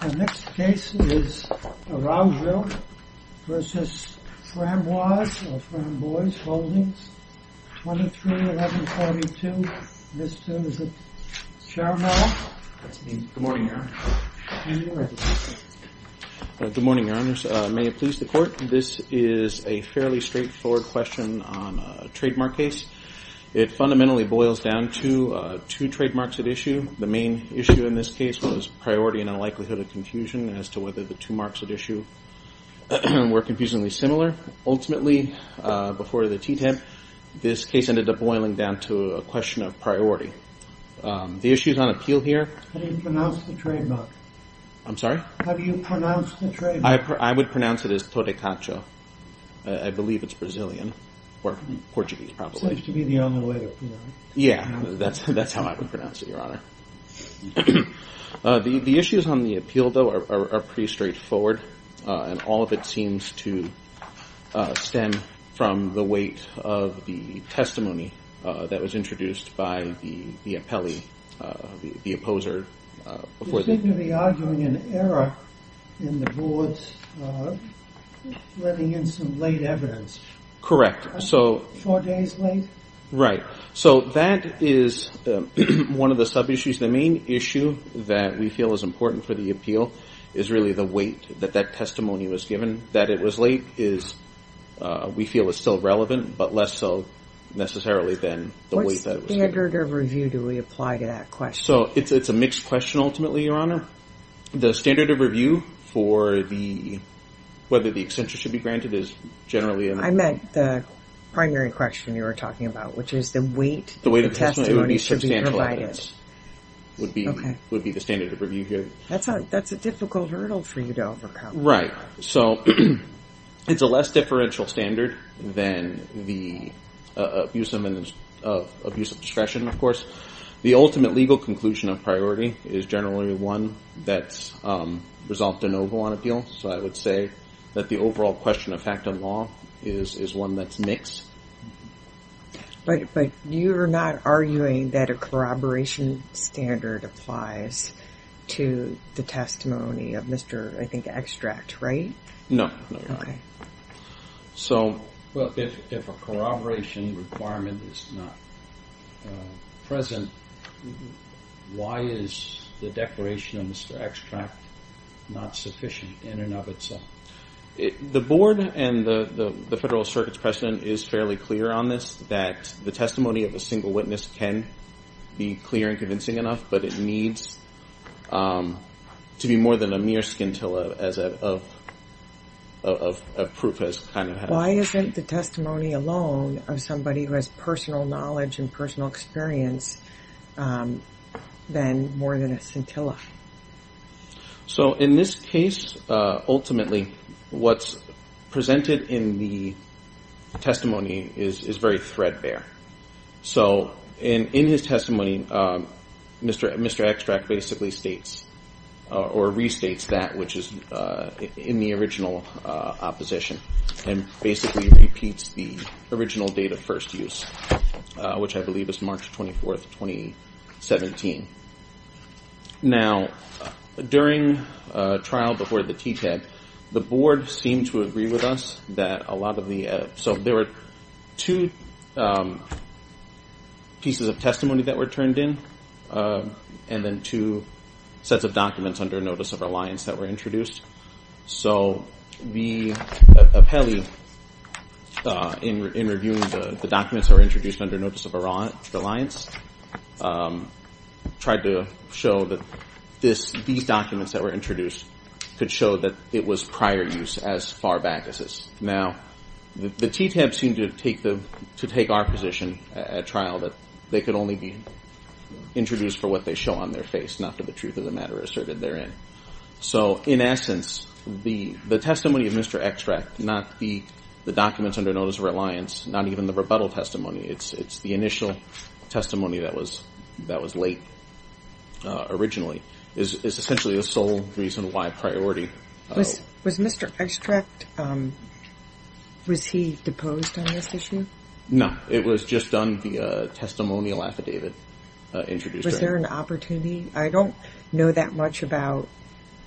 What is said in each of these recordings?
The next case is Araujo v. Framboise or Framboise Holdings, 23-11-42. Mr. Sharma. Good morning, Your Honor. You may be ready. Good morning, Your Honors. May it please the Court, this is a fairly straightforward question on a trademark case. It fundamentally boils down to two trademarks at issue. The main issue in this case was priority and a likelihood of confusion as to whether the two marks at issue were confusingly similar. Ultimately, before the TTIP, this case ended up boiling down to a question of priority. The issue is on appeal here. How do you pronounce the trademark? I'm sorry? How do you pronounce the trademark? I would pronounce it as Todecacho. I believe it's Brazilian or Portuguese, probably. Seems to be the only way to pronounce it. Yeah, that's how I would pronounce it, Your Honor. The issues on the appeal, though, are pretty straightforward, and all of it seems to stem from the weight of the testimony that was introduced by the appellee, the opposer. You seem to be arguing an error in the Board's letting in some late evidence. Correct. Four days late? Right. That is one of the sub-issues. The main issue that we feel is important for the appeal is really the weight that that testimony was given. That it was late, we feel, is still relevant, but less so, necessarily, than the weight that it was given. What standard of review do we apply to that question? It's a mixed question, ultimately, Your Honor. The standard of review for whether the extension should be granted is generally in the— I meant the primary question you were talking about, which is the weight of the testimony should be provided. The weight of the testimony would be substantial evidence, would be the standard of review here. That's a difficult hurdle for you to overcome. Right. It's a less differential standard than the abuse of discretion, of course. The ultimate legal conclusion of priority is generally one that's resolved de novo on appeal. So I would say that the overall question of fact and law is one that's mixed. But you're not arguing that a corroboration standard applies to the testimony of Mr., I think, Extract, right? No. Okay. So— Well, if a corroboration requirement is not present, why is the declaration of Mr. Extract not sufficient in and of itself? The Board and the Federal Circuit's precedent is fairly clear on this, that the testimony of a single witness can be clear and convincing enough, but it needs to be more than a mere scintilla of proof as kind of— Why isn't the testimony alone of somebody who has personal knowledge and personal experience then more than a scintilla? So in this case, ultimately, what's presented in the testimony is very threadbare. So in his testimony, Mr. Extract basically states or restates that which is in the original opposition and basically repeats the original date of first use, which I believe is March 24th, 2017. Now, during trial before the TTAG, the Board seemed to agree with us that a lot of the— So there were two pieces of testimony that were turned in and then two sets of documents under notice of reliance that were introduced. So the appellee, in reviewing the documents that were introduced under notice of reliance, tried to show that these documents that were introduced could show that it was prior use as far back as this. Now, the TTAG seemed to take our position at trial that they could only be introduced for what they show on their face, not to the truth of the matter asserted therein. So in essence, the testimony of Mr. Extract, not the documents under notice of reliance, not even the rebuttal testimony, it's the initial testimony that was late originally, is essentially the sole reason why priority— Was Mr. Extract—was he deposed on this issue? No. It was just done via a testimonial affidavit introduced. Was there an opportunity—I don't know that much about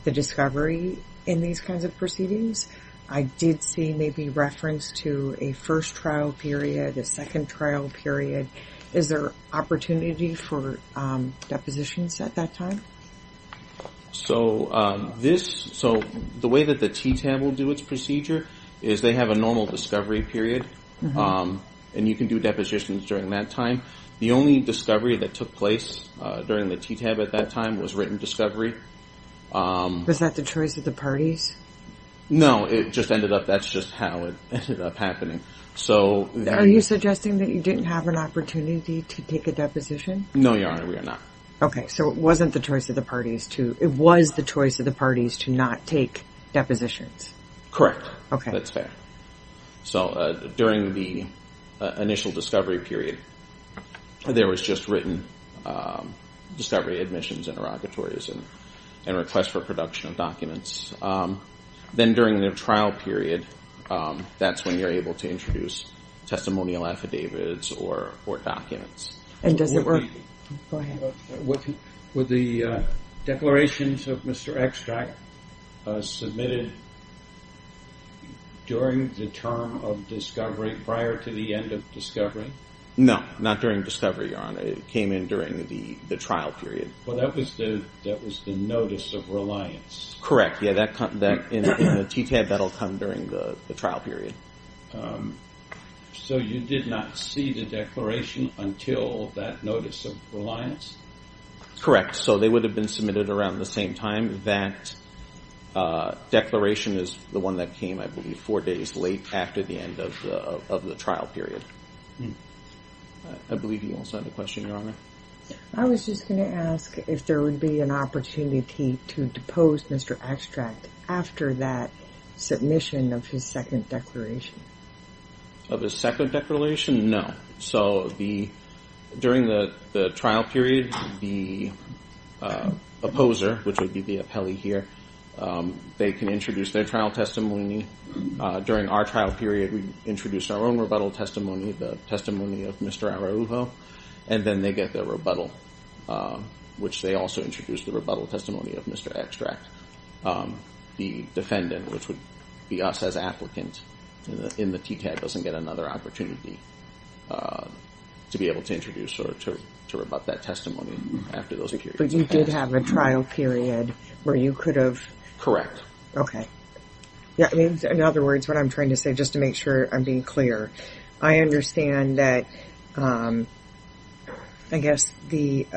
the discovery in these kinds of proceedings. I did see maybe reference to a first trial period, a second trial period. Is there opportunity for depositions at that time? So this—so the way that the TTAG will do its procedure is they have a normal discovery period, and you can do depositions during that time. The only discovery that took place during the TTAG at that time was written discovery. Was that the choice of the parties? No. It just ended up—that's just how it ended up happening. Are you suggesting that you didn't have an opportunity to take a deposition? No, Your Honor, we are not. Okay, so it wasn't the choice of the parties to—it was the choice of the parties to not take depositions. Correct. Okay. That's fair. So during the initial discovery period, there was just written discovery, admissions, interrogatories, and request for production of documents. Then during the trial period, that's when you're able to introduce testimonial affidavits or documents. And does it work? Go ahead. Were the declarations of Mr. Extract submitted during the term of discovery, prior to the end of discovery? No, not during discovery, Your Honor. It came in during the trial period. Well, that was the notice of reliance. Correct, yeah. In the TTAG, that will come during the trial period. So you did not see the declaration until that notice of reliance? Correct, so they would have been submitted around the same time. That declaration is the one that came, I believe, four days late after the end of the trial period. I believe you also had a question, Your Honor. I was just going to ask if there would be an opportunity to depose Mr. Extract after that submission of his second declaration? Of his second declaration? No. So during the trial period, the opposer, which would be the appellee here, they can introduce their trial testimony. During our trial period, we introduced our own rebuttal testimony, the testimony of Mr. Araujo, and then they get their rebuttal, which they also introduce the rebuttal testimony of Mr. Extract. The defendant, which would be us as applicants in the TTAG, doesn't get another opportunity to be able to introduce or to rebut that testimony after those periods. But you did have a trial period where you could have? Correct. Okay. In other words, what I'm trying to say, just to make sure I'm being clear, I understand that I guess the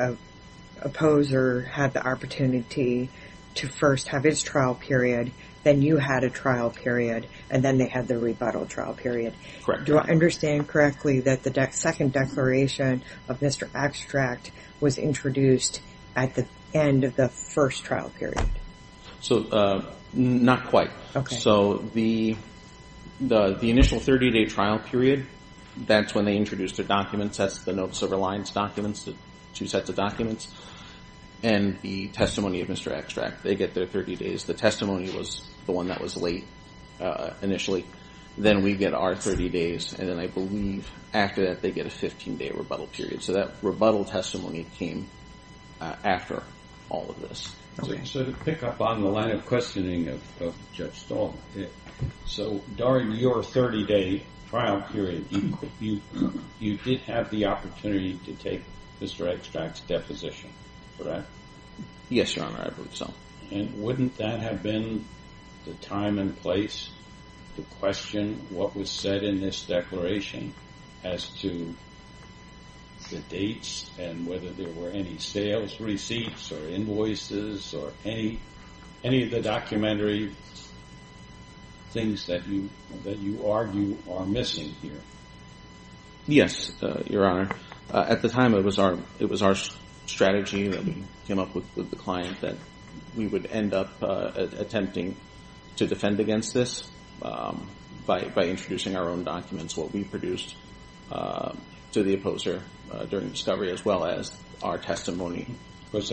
opposer had the opportunity to first have his trial period, then you had a trial period, and then they had the rebuttal trial period. Correct. Do I understand correctly that the second declaration of Mr. Extract was introduced at the end of the first trial period? Not quite. Okay. So the initial 30-day trial period, that's when they introduced their documents. That's the notes of reliance documents, the two sets of documents, and the testimony of Mr. Extract. They get their 30 days. The testimony was the one that was late initially. Then we get our 30 days, and then I believe after that they get a 15-day rebuttal period. So that rebuttal testimony came after all of this. So to pick up on the line of questioning of Judge Stahl, so during your 30-day trial period, you did have the opportunity to take Mr. Extract's deposition, correct? Yes, Your Honor, I believe so. And wouldn't that have been the time and place to question what was said in this declaration as to the dates and whether there were any sales receipts or invoices or any of the documentary things that you argue are missing here? Yes, Your Honor. At the time, it was our strategy that we came up with with the client that we would end up attempting to defend against this by introducing our own documents, what we produced to the opposer during discovery, as well as our testimony. Because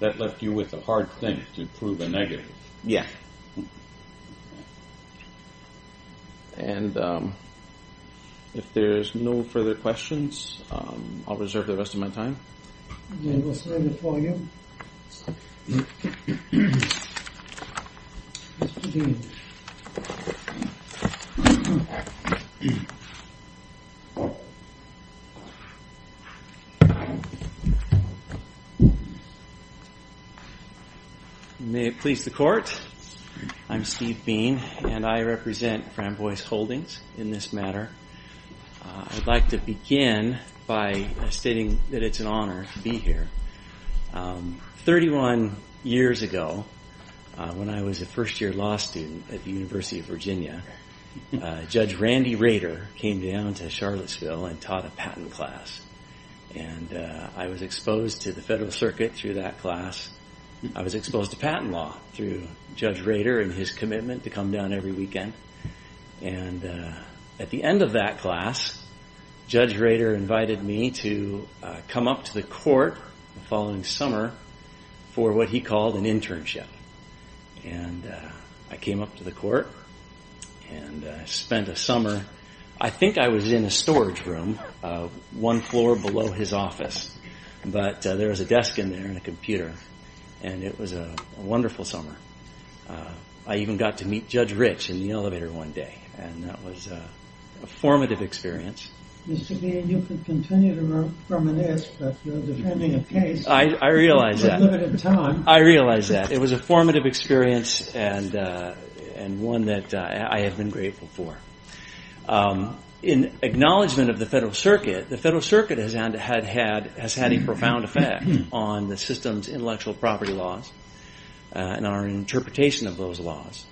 that left you with a hard thing to prove a negative. Yeah. And if there's no further questions, I'll reserve the rest of my time. Then we'll sign it for you. Thank you. May it please the Court, I'm Steve Bean, and I represent Fram Boyce Holdings in this matter. I'd like to begin by stating that it's an honor to be here. Thirty-one years ago, when I was a first-year law student at the University of Virginia, Judge Randy Rader came down to Charlottesville and taught a patent class. And I was exposed to the Federal Circuit through that class. I was exposed to patent law through Judge Rader and his commitment to come down every weekend. And at the end of that class, Judge Rader invited me to come up to the court the following summer for what he called an internship. And I came up to the court and spent a summer. I think I was in a storage room, one floor below his office. But there was a desk in there and a computer. And it was a wonderful summer. I even got to meet Judge Rich in the elevator one day. And that was a formative experience. Mr. Bean, you can continue to work from an desk, but you're defending a case. I realize that. It's a limited time. I realize that. It was a formative experience and one that I have been grateful for. In acknowledgment of the Federal Circuit, the Federal Circuit has had a profound effect on the system's intellectual property laws. And our interpretation of those laws.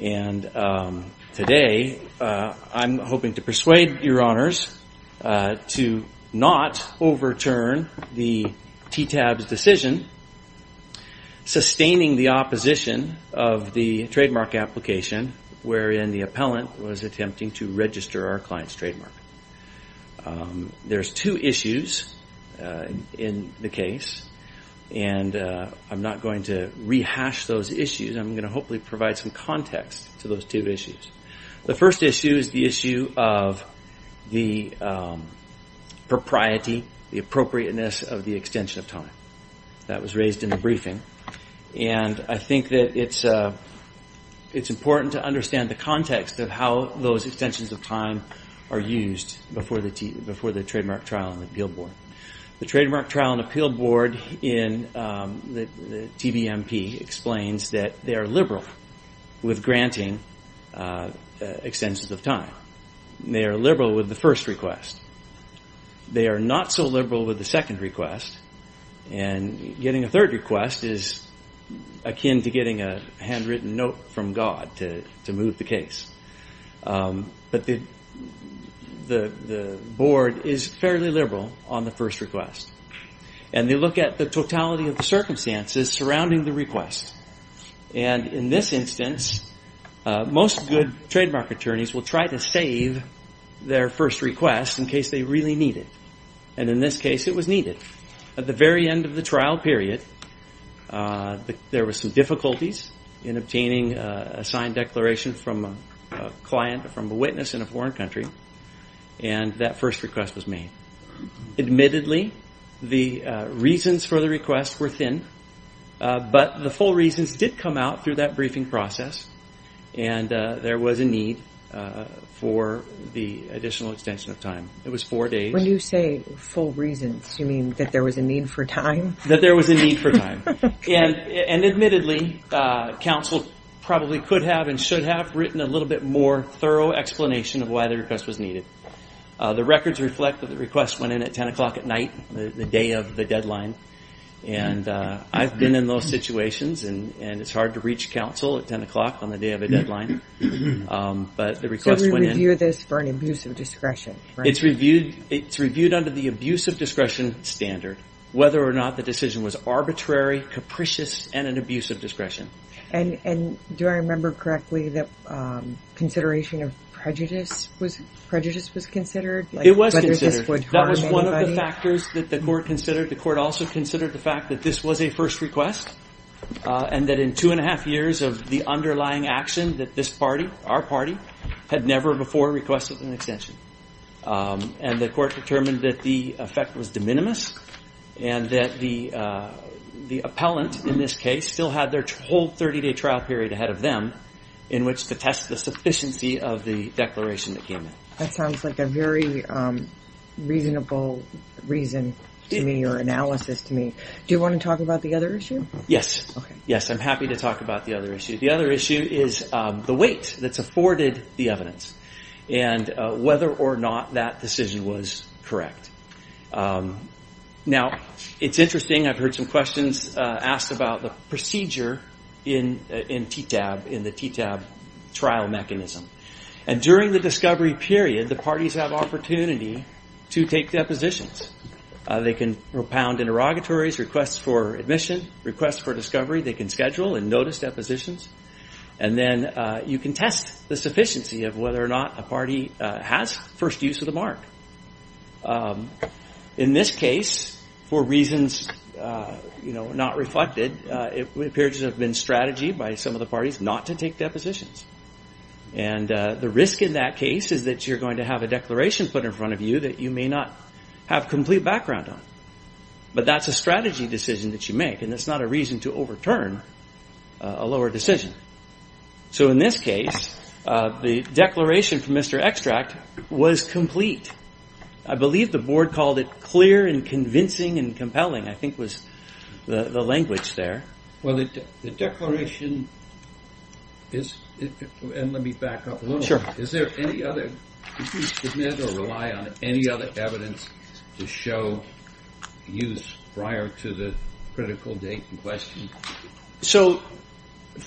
And today, I'm hoping to persuade your honors to not overturn the TTAB's decision, sustaining the opposition of the trademark application wherein the appellant was attempting to register our client's trademark. There's two issues in the case. And I'm not going to rehash those issues. I'm going to hopefully provide some context to those two issues. The first issue is the issue of the propriety, the appropriateness of the extension of time. That was raised in the briefing. And I think that it's important to understand the context of how those extensions of time are used before the trademark trial and the appeal board. The trademark trial and appeal board in the TBMP explains that they are liberal with granting extensions of time. They are liberal with the first request. They are not so liberal with the second request. And getting a third request is akin to getting a handwritten note from God to move the case. But the board is fairly liberal on the first request. And they look at the totality of the circumstances surrounding the request. And in this instance, most good trademark attorneys will try to save their first request in case they really need it. And in this case, it was needed. At the very end of the trial period, there were some difficulties in obtaining a signed declaration from a client, from a witness in a foreign country. And that first request was made. Admittedly, the reasons for the request were thin. But the full reasons did come out through that briefing process. And there was a need for the additional extension of time. It was four days. When you say full reasons, you mean that there was a need for time? That there was a need for time. And admittedly, counsel probably could have and should have written a little bit more thorough explanation of why the request was needed. The records reflect that the request went in at 10 o'clock at night, the day of the deadline. And I've been in those situations. And it's hard to reach counsel at 10 o'clock on the day of a deadline. But the request went in. So we review this for an abuse of discretion, right? It's reviewed under the abuse of discretion standard, whether or not the decision was arbitrary, capricious, and an abuse of discretion. And do I remember correctly that consideration of prejudice was considered? It was considered. Whether this would harm anybody? That was one of the factors that the court considered. The court also considered the fact that this was a first request. And that in two and a half years of the underlying action that this party, our party, had never before requested an extension. And the court determined that the effect was de minimis and that the appellant, in this case, still had their whole 30-day trial period ahead of them in which to test the sufficiency of the declaration that came in. That sounds like a very reasonable reason to me or analysis to me. Do you want to talk about the other issue? Yes. Yes, I'm happy to talk about the other issue. The other issue is the weight that's afforded the evidence and whether or not that decision was correct. Now, it's interesting. I've heard some questions asked about the procedure in TTAB, in the TTAB trial mechanism. And during the discovery period, the parties have opportunity to take depositions. They can propound interrogatories, requests for admission, requests for discovery. They can schedule and notice depositions. And then you can test the sufficiency of whether or not a party has first use of the mark. In this case, for reasons not reflected, it appears to have been strategy by some of the parties not to take depositions. And the risk in that case is that you're going to have a declaration put in front of you that you may not have complete background on. But that's a strategy decision that you make, and it's not a reason to overturn a lower decision. So in this case, the declaration from Mr. Extract was complete. I believe the board called it clear and convincing and compelling, I think was the language there. Well, the declaration is – and let me back up a little. Sure. Is there any other – did you submit or rely on any other evidence to show use prior to the critical date in question? So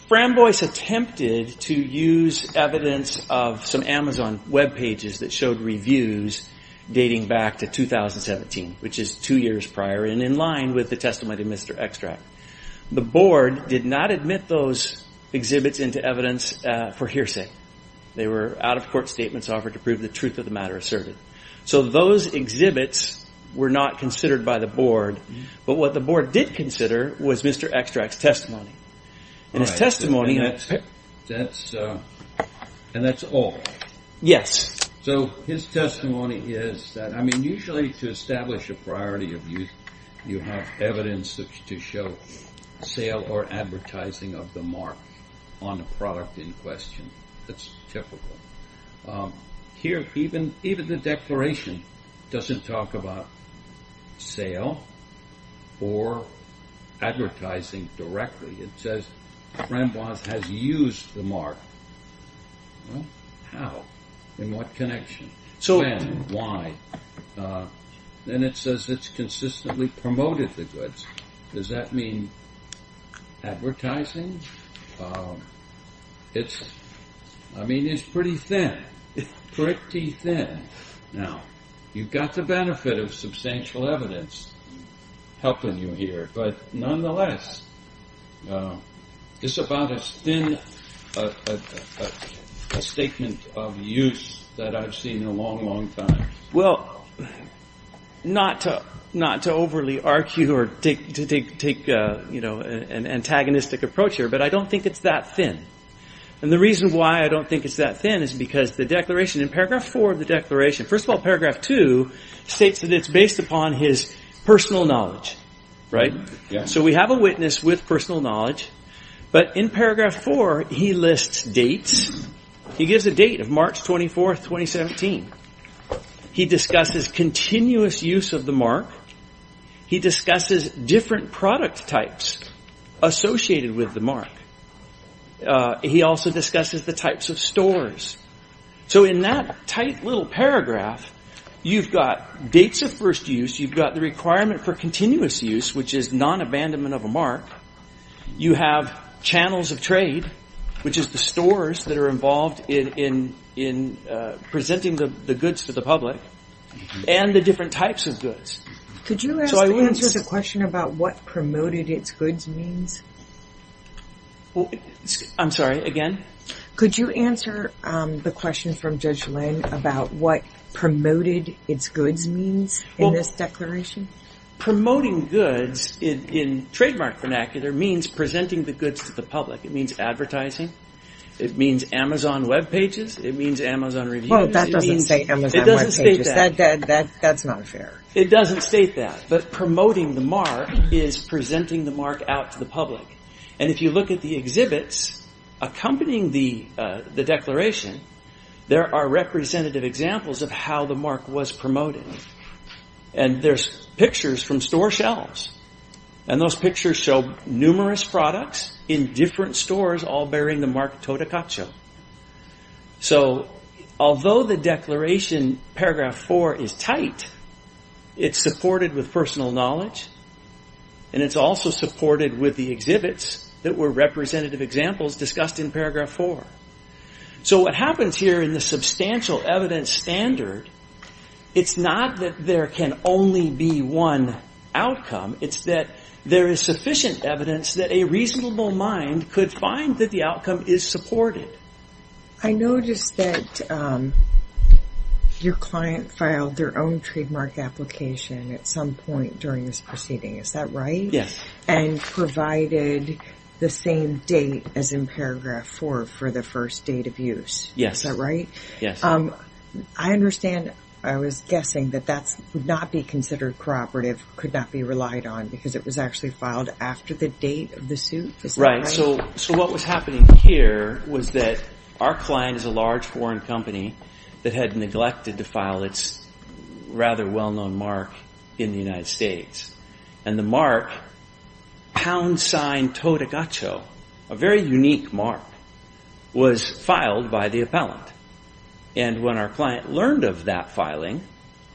Framboise attempted to use evidence of some Amazon webpages that showed reviews dating back to 2017, which is two years prior and in line with the testimony of Mr. Extract. The board did not admit those exhibits into evidence for hearsay. They were out-of-court statements offered to prove the truth of the matter asserted. So those exhibits were not considered by the board. But what the board did consider was Mr. Extract's testimony. And his testimony – And that's all? Yes. So his testimony is that – I mean, usually to establish a priority of use, you have evidence to show sale or advertising of the mark on a product in question. That's typical. Here, even the declaration doesn't talk about sale or advertising directly. It says Framboise has used the mark. How? In what connection? So why? Then it says it's consistently promoted the goods. Does that mean advertising? I mean, it's pretty thin. Pretty thin. Now, you've got the benefit of substantial evidence helping you here, but nonetheless, it's about as thin a statement of use that I've seen in a long, long time. Well, not to overly argue or to take an antagonistic approach here, but I don't think it's that thin. And the reason why I don't think it's that thin is because the declaration – in paragraph 4 of the declaration – first of all, paragraph 2 states that it's based upon his personal knowledge. So we have a witness with personal knowledge. But in paragraph 4, he lists dates. He gives a date of March 24, 2017. He discusses continuous use of the mark. He discusses different product types associated with the mark. He also discusses the types of stores. So in that tight little paragraph, you've got dates of first use. You've got the requirement for continuous use, which is nonabandonment of a mark. You have channels of trade, which is the stores that are involved in presenting the goods to the public, and the different types of goods. Could you answer the question about what promoted its goods means? I'm sorry, again? Could you answer the question from Judge Lynn about what promoted its goods means in this declaration? Promoting goods in trademark vernacular means presenting the goods to the public. It means advertising. It means Amazon webpages. It means Amazon reviews. Well, that doesn't say Amazon webpages. It doesn't state that. That's not fair. It doesn't state that. But promoting the mark is presenting the mark out to the public. And if you look at the exhibits accompanying the declaration, there are representative examples of how the mark was promoted. And there's pictures from store shelves. And those pictures show numerous products in different stores, all bearing the mark Totocaccio. So although the declaration, paragraph 4, is tight, it's supported with personal knowledge, and it's also supported with the exhibits that were representative examples discussed in paragraph 4. So what happens here in the substantial evidence standard, it's not that there can only be one outcome. It's that there is sufficient evidence that a reasonable mind could find that the outcome is supported. I noticed that your client filed their own trademark application at some point during this proceeding. Is that right? Yes. And provided the same date as in paragraph 4 for the first date of use. Yes. Is that right? Yes. I understand. I was guessing that that would not be considered corroborative, could not be relied on, because it was actually filed after the date of the suit. Right. So what was happening here was that our client is a large foreign company that had neglected to file its rather well-known mark in the United States. And the mark, pound sign Totocaccio, a very unique mark, was filed by the appellant. And when our client learned of that filing,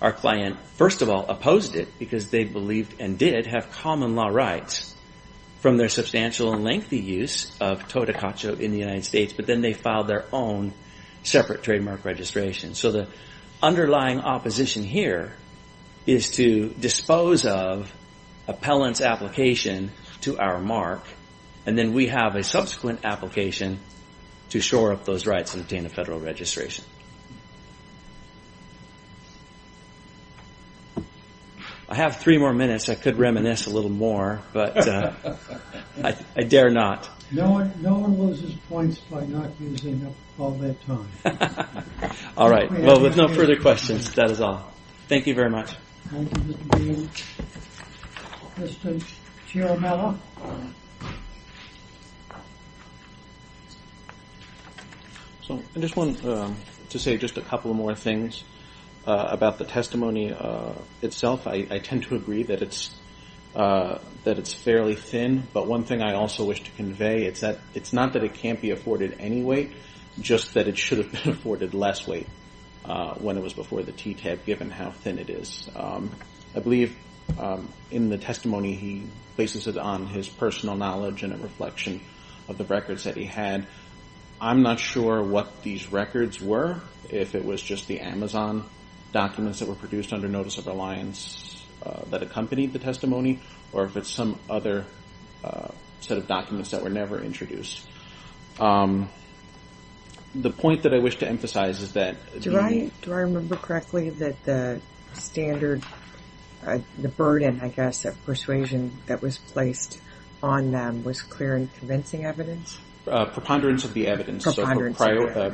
our client, first of all, opposed it, because they believed and did have common law rights from their substantial and lengthy use of Totocaccio in the United States. But then they filed their own separate trademark registration. So the underlying opposition here is to dispose of appellant's application to our mark, and then we have a subsequent application to shore up those rights and obtain a federal registration. Thank you very much. I have three more minutes. I could reminisce a little more, but I dare not. No one loses points by not using up all their time. All right. Well, with no further questions, that is all. Thank you very much. Thank you, Mr. Green. Mr. Chiarmella. I just wanted to say just a couple more things about the testimony itself. I tend to agree that it's fairly thin, but one thing I also wish to convey, it's not that it can't be afforded any weight, just that it should have been afforded less weight when it was before the TTAB, given how thin it is. I believe in the testimony he places it on his personal knowledge and a reflection of the records that he had. I'm not sure what these records were, if it was just the Amazon documents that were produced under Notice of Reliance that accompanied the testimony, or if it's some other set of documents that were never introduced. The point that I wish to emphasize is that the Do I remember correctly that the standard, the burden, I guess, of persuasion that was placed on them was clear and convincing evidence? Preponderance of the evidence.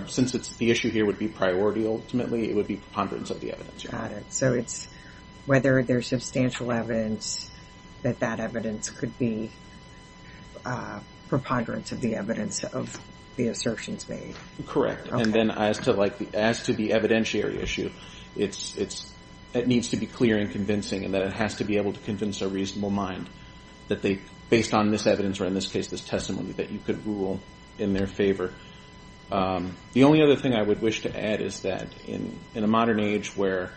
Since the issue here would be priority, ultimately, it would be preponderance of the evidence. Got it. So it's whether there's substantial evidence that that evidence could be preponderance of the evidence of the assertions made. Correct. And then as to the evidentiary issue, it needs to be clear and convincing and that it has to be able to convince a reasonable mind that based on this evidence, or in this case this testimony, that you could rule in their favor. The only other thing I would wish to add is that in a modern age where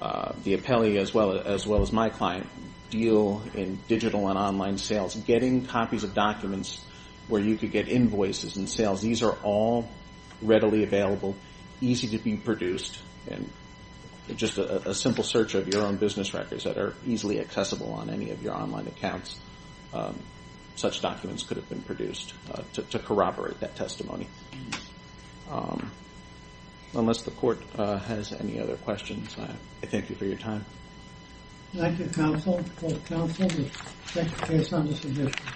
the appellee as well as my client deal in digital and online sales, getting copies of documents where you could get invoices and sales, these are all readily available, easy to be produced, and just a simple search of your own business records that are easily accessible on any of your online accounts, such documents could have been produced to corroborate that testimony. Unless the Court has any other questions, I thank you for your time. Thank you, Counsel. Counsel, we thank you based on this edition.